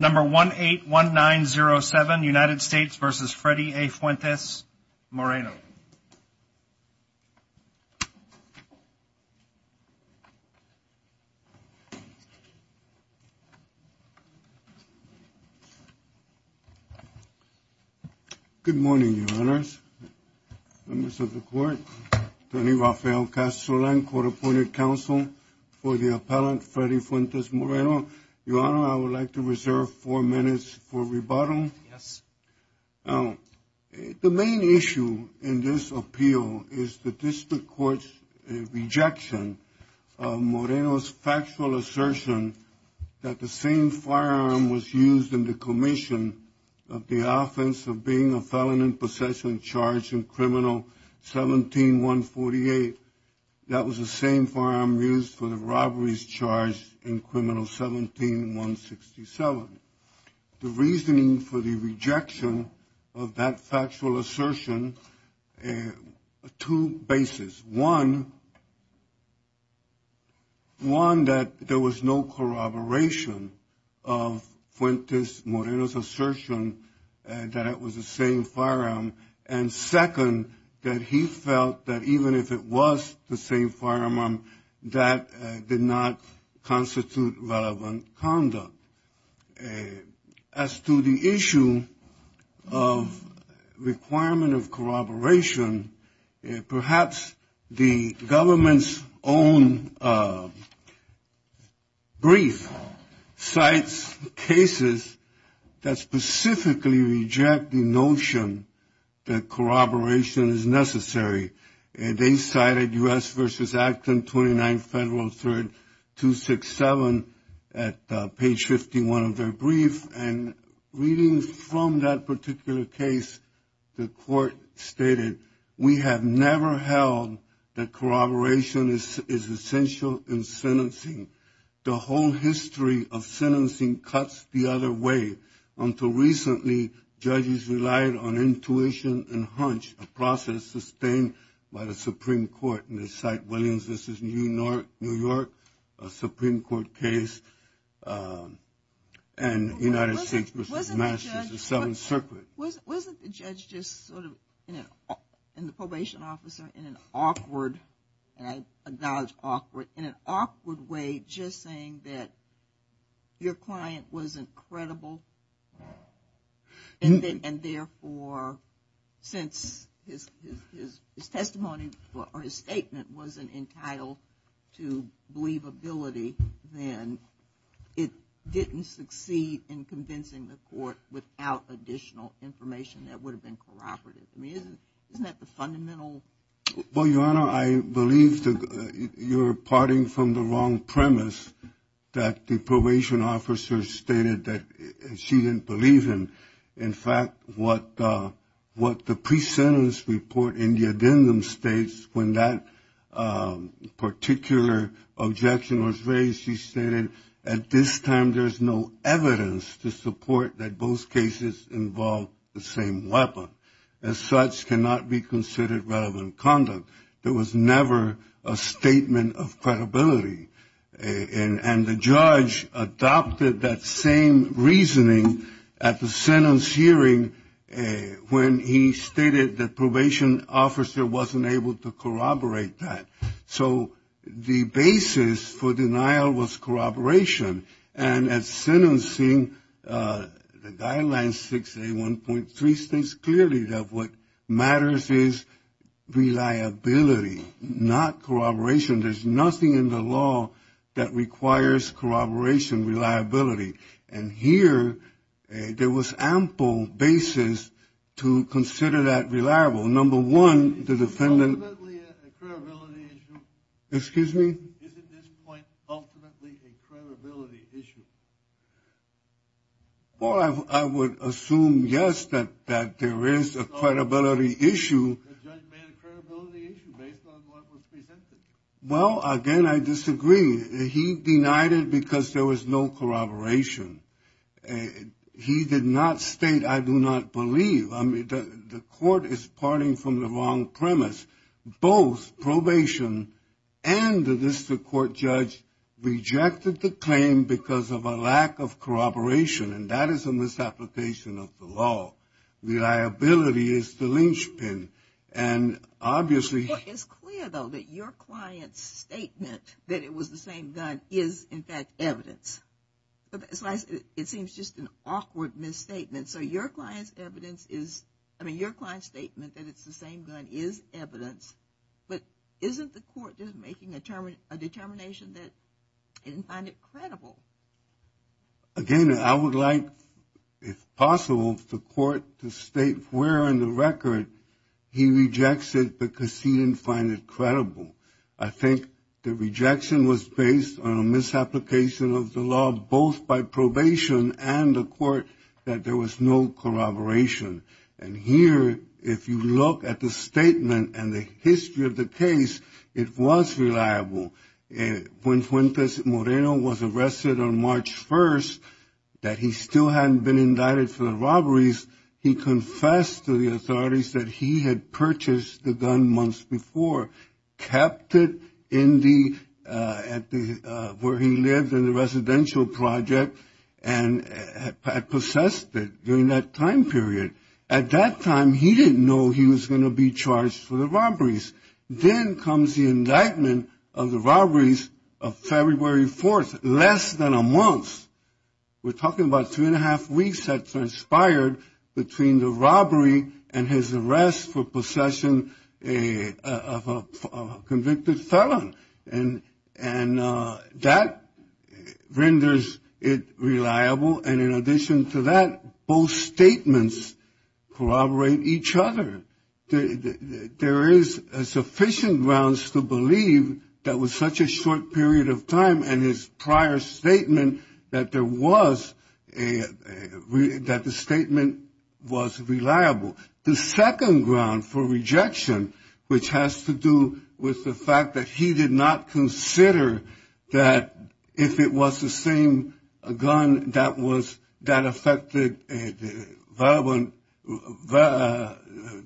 Number 181907, United States v. Freddy A. Fuentes-Moreno. Good morning, your honors, members of the court. Tony Rafael Castrolan, court appointed counsel for the appellant, Freddy Fuentes-Moreno. Your honor, I would like to reserve four minutes for rebuttal. Yes. The main issue in this appeal is the district court's rejection of Moreno's factual assertion that the same firearm was used in the commission of the offense of being a felon in possession, charged in criminal 17148. That was the same firearm used for the robberies charged in criminal 17167. The reasoning for the rejection of that factual assertion, two bases. One, that there was no corroboration of Fuentes-Moreno's assertion that it was the same firearm, and second, that he felt that even if it was the same firearm, that did not constitute relevant conduct. As to the issue of requirement of corroboration, perhaps the government's own brief cites cases that specifically reject the notion that corroboration is necessary. They cited U.S. v. Acton 29 Federal 3rd 267 at page 51 of their brief, and reading from that particular case, the court stated, we have never held that corroboration is essential in sentencing. The whole history of sentencing cuts the other way. Until recently, judges relied on intuition and hunch, a process sustained by the Supreme Court. And they cite Williams v. New York, a Supreme Court case, and United States v. Massachusetts 7th Circuit. Wasn't the judge just sort of, and the probation officer, in an awkward, and I acknowledge awkward, in an awkward way just saying that your client was incredible, and therefore, since his testimony or his statement wasn't entitled to believability, then it didn't succeed in convincing the court without additional information that would have been corroborative. I mean, isn't that the fundamental? Well, Your Honor, I believe you're parting from the wrong premise that the probation officer stated that she didn't believe him. In fact, what the pre-sentence report in the addendum states, when that particular objection was raised, she stated, at this time, there's no evidence to support that both cases involve the same weapon. As such, cannot be considered relevant conduct. There was never a statement of credibility. And the judge adopted that same reasoning at the sentence hearing, when he stated the probation officer wasn't able to corroborate that. So the basis for denial was corroboration. And at sentencing, the guideline 6A1.3 states clearly that what matters is reliability, not corroboration. There's nothing in the law that requires corroboration, reliability. And here, there was ample basis to consider that reliable. Well, number one, the defendant- Ultimately, a credibility issue. Excuse me? Isn't this point ultimately a credibility issue? Well, I would assume, yes, that there is a credibility issue. The judge made a credibility issue based on what was presented. Well, again, I disagree. He denied it because there was no corroboration. He did not state, I do not believe. I mean, the court is parting from the wrong premise. Both probation and the district court judge rejected the claim because of a lack of corroboration. And that is a misapplication of the law. Reliability is the linchpin. And obviously- It's clear, though, that your client's statement that it was the same gun is, in fact, evidence. It seems just an awkward misstatement. So your client's evidence is- I mean, your client's statement that it's the same gun is evidence. But isn't the court just making a determination that it didn't find it credible? Again, I would like, if possible, the court to state where in the record he rejects it because he didn't find it credible. I think the rejection was based on a misapplication of the law, both by probation and the court, that there was no corroboration. And here, if you look at the statement and the history of the case, it was reliable. When Fuentes Moreno was arrested on March 1st, that he still hadn't been indicted for the robberies, he confessed to the authorities that he had purchased the gun months before, kept it where he lived in the residential project, and had possessed it during that time period. At that time, he didn't know he was going to be charged for the robberies. Then comes the indictment of the robberies of February 4th, less than a month. We're talking about three and a half weeks that transpired between the robbery and his arrest for possession of a convicted felon. And that renders it reliable. And in addition to that, both statements corroborate each other. There is sufficient grounds to believe that with such a short period of time, and his prior statement that the statement was reliable. The second ground for rejection, which has to do with the fact that he did not consider that if it was the same gun that was, that affected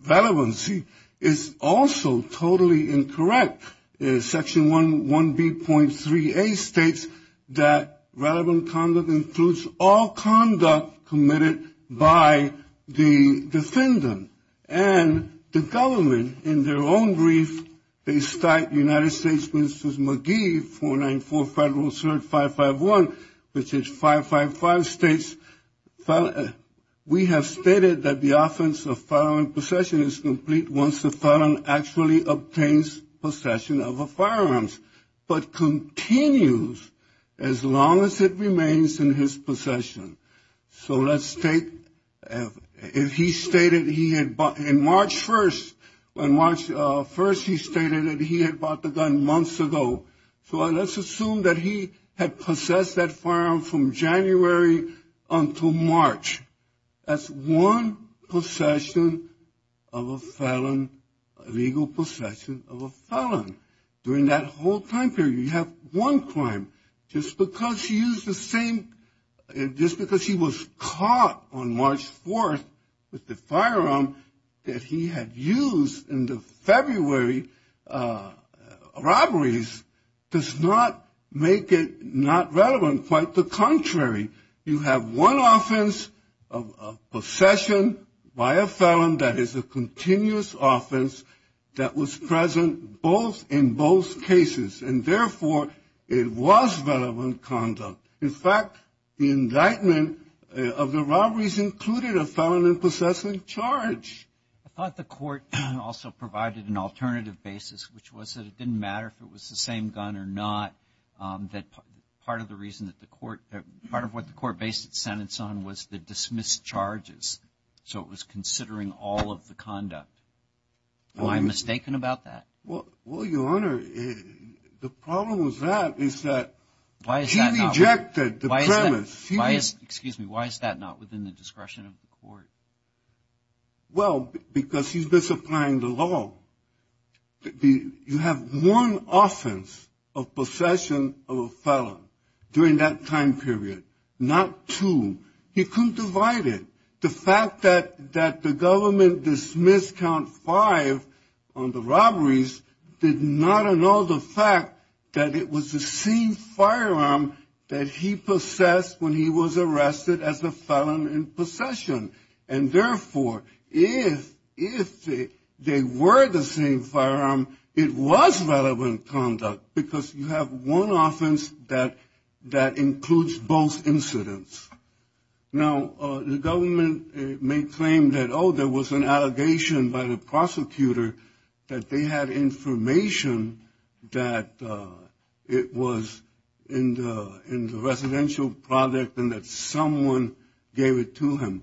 relevancy, is also totally incorrect. Section 1B.3A states that relevant conduct includes all conduct committed by the defendant. And the government, in their own brief, they cite United States Ministers McGee, 494 Federal Cert 551, which is 555 states, we have stated that the offense of felon possession is complete once the felon actually obtains possession of a firearms, but continues as long as it remains in his possession. So let's take, if he stated he had bought, in March 1st, when March 1st he stated that he had bought the gun months ago. So let's assume that he had possessed that firearm from January until March. That's one possession of a felon, legal possession of a felon. During that whole time period, you have one crime. Just because he was caught on March 4th with the firearm that he had used in the February robberies does not make it not relevant. Quite the contrary. You have one offense of possession by a felon that is a continuous offense that was present both in both cases. And therefore, it was relevant conduct. In fact, the indictment of the robberies included a felon in possessing charge. I thought the court also provided an alternative basis, which was that it didn't matter if it was the same gun or not, that part of the reason that the court, part of what the court based its sentence on was the dismissed charges. So it was considering all of the conduct. Am I mistaken about that? Well, Your Honor, the problem with that is that he rejected the premise. Excuse me. Why is that not within the discretion of the court? Well, because he's misapplying the law. You have one offense of possession of a felon during that time period, not two. He couldn't divide it. The fact that the government dismissed count five on the robberies did not annul the fact that it was the same firearm that he possessed when he was arrested as a felon in possession. And therefore, if they were the same firearm, it was relevant conduct because you have one offense that includes both incidents. Now, the government may claim that, oh, there was an allegation by the prosecutor that they had information that it was in the residential project and that someone gave it to him.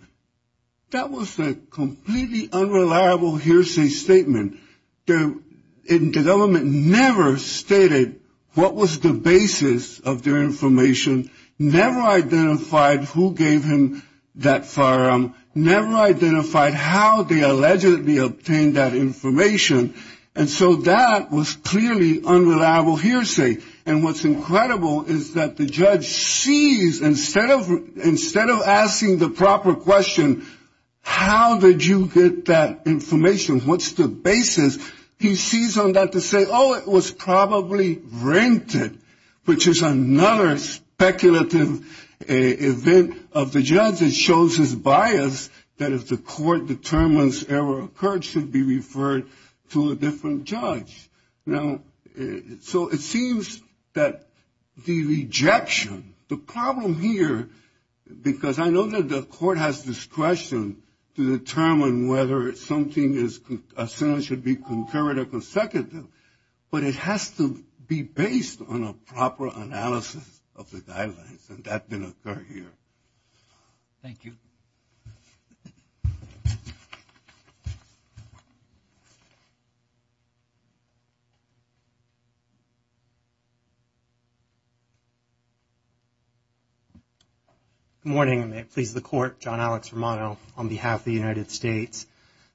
That was a completely unreliable hearsay statement. And the government never stated what was the basis of their information, never identified who gave him that firearm, never identified how they allegedly obtained that information. And so that was clearly unreliable hearsay. And what's incredible is that the judge sees, instead of asking the proper question, how did you get that information, what's the basis, he sees on that to say, oh, it was probably rented, which is another speculative event of the judge. It shows his bias that if the court determines error occurred, should be referred to a different judge. Now, so it seems that the rejection, the problem here, because I know that the court has discretion to determine whether something is essentially should be concurred or consecutive, but it has to be based on a proper analysis of the guidelines, and that didn't occur here. Thank you. Good morning. May it please the court, John Alex Romano on behalf of the United States.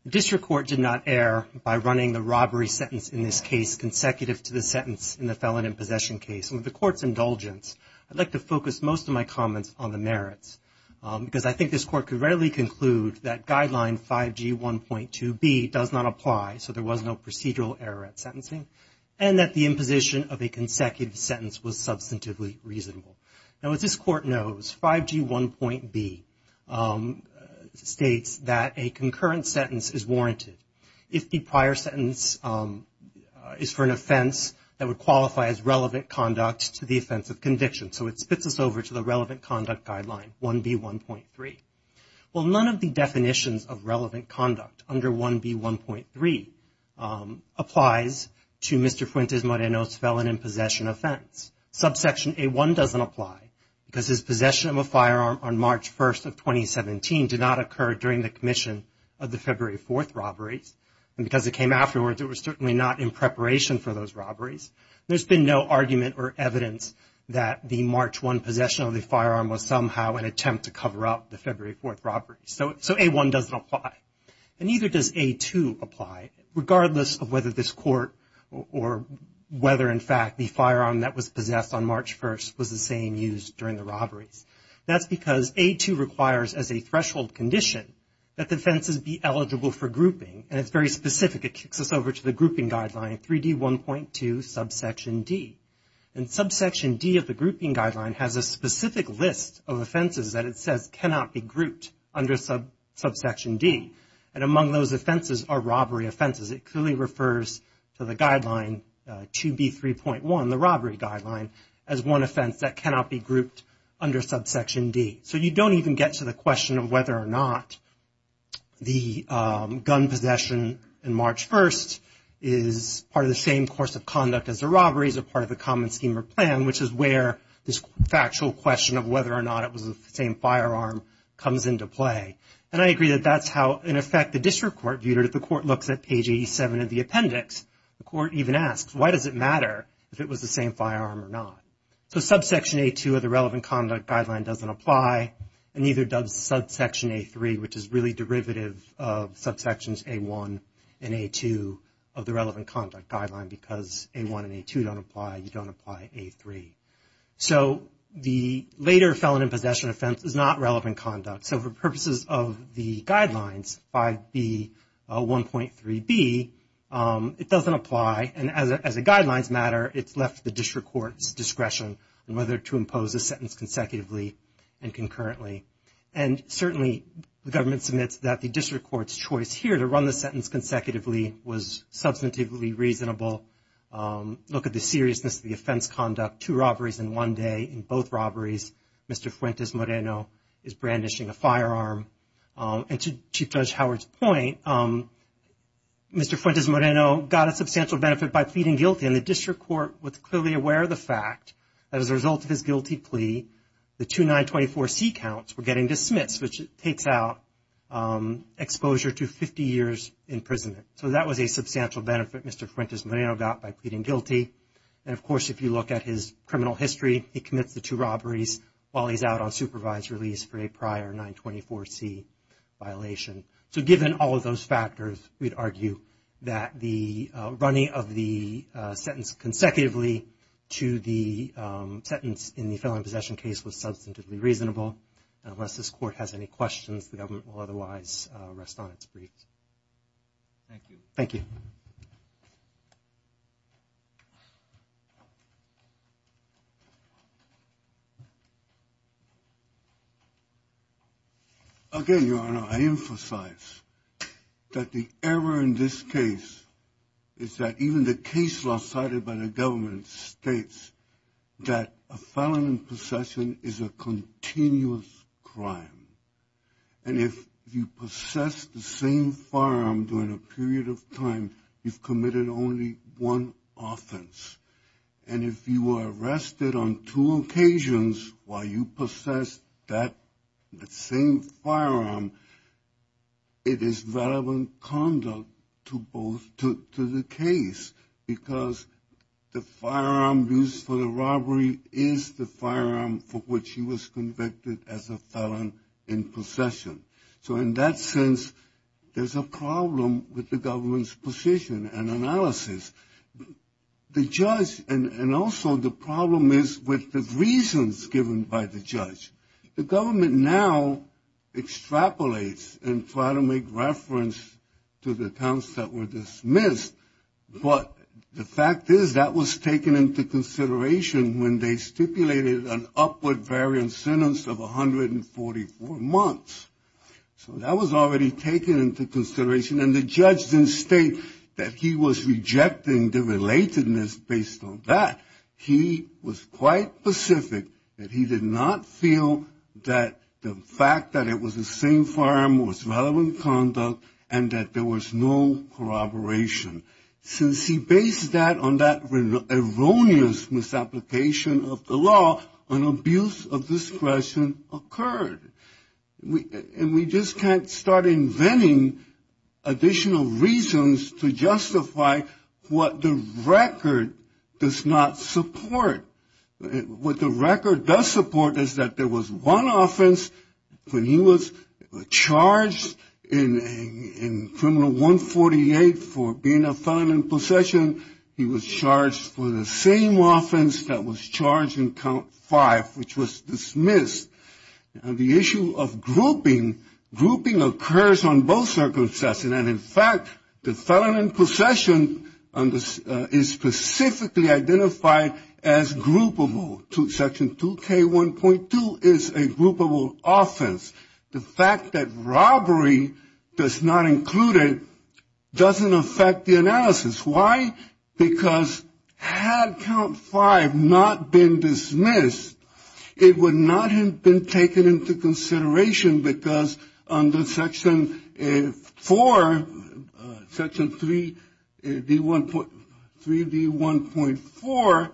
The district court did not err by running the robbery sentence in this case consecutive to the sentence in the felon in possession case. And with the court's indulgence, I'd like to focus most of my comments on the merits. Because I think this court could readily conclude that guideline 5G1.2B does not apply, so there was no procedural error at sentencing, and that the imposition of a consecutive sentence was substantively reasonable. Now, as this court knows, 5G1.B states that a concurrent sentence is warranted. If the prior sentence is for an offense that would qualify as relevant conduct to the offense of conviction, so it spits us over to the relevant conduct guideline, 1B1.3. Well, none of the definitions of relevant conduct under 1B1.3 applies to Mr. Fuentes Moreno's felon in possession offense. Subsection A1 doesn't apply because his possession of a firearm on March 1st of 2017 did not occur during the commission of the February 4th robberies, and because it came afterwards, it was certainly not in preparation for those robberies. There's been no argument or evidence that the March 1 possession of the firearm was somehow an attempt to cover up the February 4th robbery. So A1 doesn't apply, and neither does A2 apply, regardless of whether this court or whether, in fact, the firearm that was possessed on March 1st was the same used during the robberies. That's because A2 requires, as a threshold condition, that the offenses be eligible for grouping, and it's very specific. It kicks us over to the grouping guideline, 3D1.2, subsection D. And subsection D of the grouping guideline has a specific list of offenses that it says cannot be grouped under subsection D, and among those offenses are robbery offenses. It clearly refers to the guideline 2B3.1, the robbery guideline, as one offense that cannot be grouped under subsection D. So you don't even get to the question of whether or not the gun possession on March 1st is part of the same course of conduct as the robberies or part of the common scheme or plan, which is where this factual question of whether or not it was the same firearm comes into play. And I agree that that's how, in effect, the district court viewed it. If the court looks at page 87 of the appendix, the court even asks, why does it matter if it was the same firearm or not? So subsection A2 of the relevant conduct guideline doesn't apply, and neither does subsection A3, which is really derivative of subsections A1 and A2 of the relevant conduct guideline, because A1 and A2 don't apply. You don't apply A3. So the later felon in possession offense is not relevant conduct. So for purposes of the guidelines, 5B1.3b, it doesn't apply. And as the guidelines matter, it's left the district court's discretion on whether to impose a sentence consecutively and concurrently. And certainly, the government submits that the district court's choice here to run the sentence consecutively was substantively reasonable. Look at the seriousness of the offense conduct, two robberies in one day in both robberies. Mr. Fuentes-Moreno is brandishing a firearm. And to Chief Judge Howard's point, Mr. Fuentes-Moreno got a substantial benefit by pleading guilty, and the district court was clearly aware of the fact that as a result of his guilty plea, the two 924C counts were getting dismissed, which takes out exposure to 50 years in prison. So that was a substantial benefit Mr. Fuentes-Moreno got by pleading guilty. And, of course, if you look at his criminal history, he commits the two robberies while he's out on supervised release for a prior 924C violation. So given all of those factors, we'd argue that the running of the sentence consecutively to the sentence in the felon in possession case was substantively reasonable. And unless this court has any questions, the government will otherwise rest on its feet. Thank you. Thank you. Again, Your Honor, I emphasize that the error in this case is that even the case law cited by the government states that a felon in possession is a continuous crime. And if you possess the same firearm during a period of time, you've committed only one offense. And if you are arrested on two occasions while you possess that same firearm, it is relevant conduct to the case because the firearm used for the robbery is the firearm for which he was convicted as a felon in possession. So in that sense, there's a problem with the government's position and analysis. The judge and also the problem is with the reasons given by the judge. The government now extrapolates and try to make reference to the counts that were dismissed. But the fact is that was taken into consideration when they stipulated an upward variance sentence of 144 months. So that was already taken into consideration. And the judge didn't state that he was rejecting the relatedness based on that. He was quite specific that he did not feel that the fact that it was the same firearm was relevant conduct and that there was no corroboration. Since he based that on that erroneous misapplication of the law, an abuse of discretion occurred. And we just can't start inventing additional reasons to justify what the record does not support. What the record does support is that there was one offense when he was charged in criminal 148 for being a felon in possession. He was charged for the same offense that was charged in count five, which was dismissed. The issue of grouping, grouping occurs on both circumstances. And, in fact, the felon in possession is specifically identified as groupable. Section 2K1.2 is a groupable offense. The fact that robbery does not include it doesn't affect the analysis. Why? Because had count five not been dismissed, it would not have been taken into consideration because under Section 4, Section 3D1.4,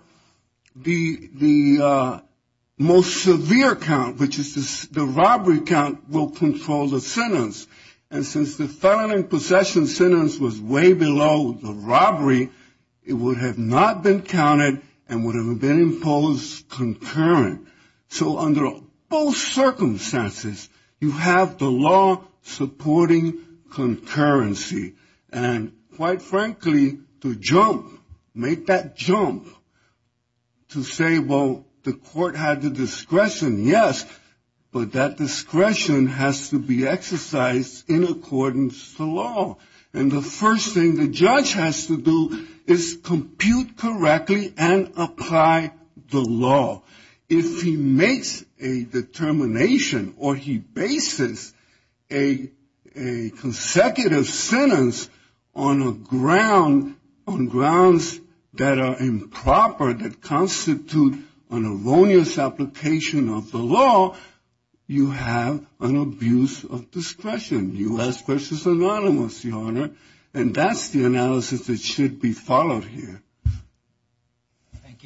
the most severe count, which is the robbery count, will control the sentence. And since the felon in possession sentence was way below the robbery, it would have not been counted and would have been imposed concurrent. So under both circumstances, you have the law supporting concurrency. And, quite frankly, to jump, make that jump, to say, well, the court had the discretion, yes, but that discretion has to be exercised in accordance to law. And the first thing the judge has to do is compute correctly and apply the law. If he makes a determination or he bases a consecutive sentence on a ground, on grounds that are improper, that constitute an erroneous application of the law, you have an abuse of discretion. U.S. v. Anonymous, Your Honor, and that's the analysis that should be followed here. Thank you.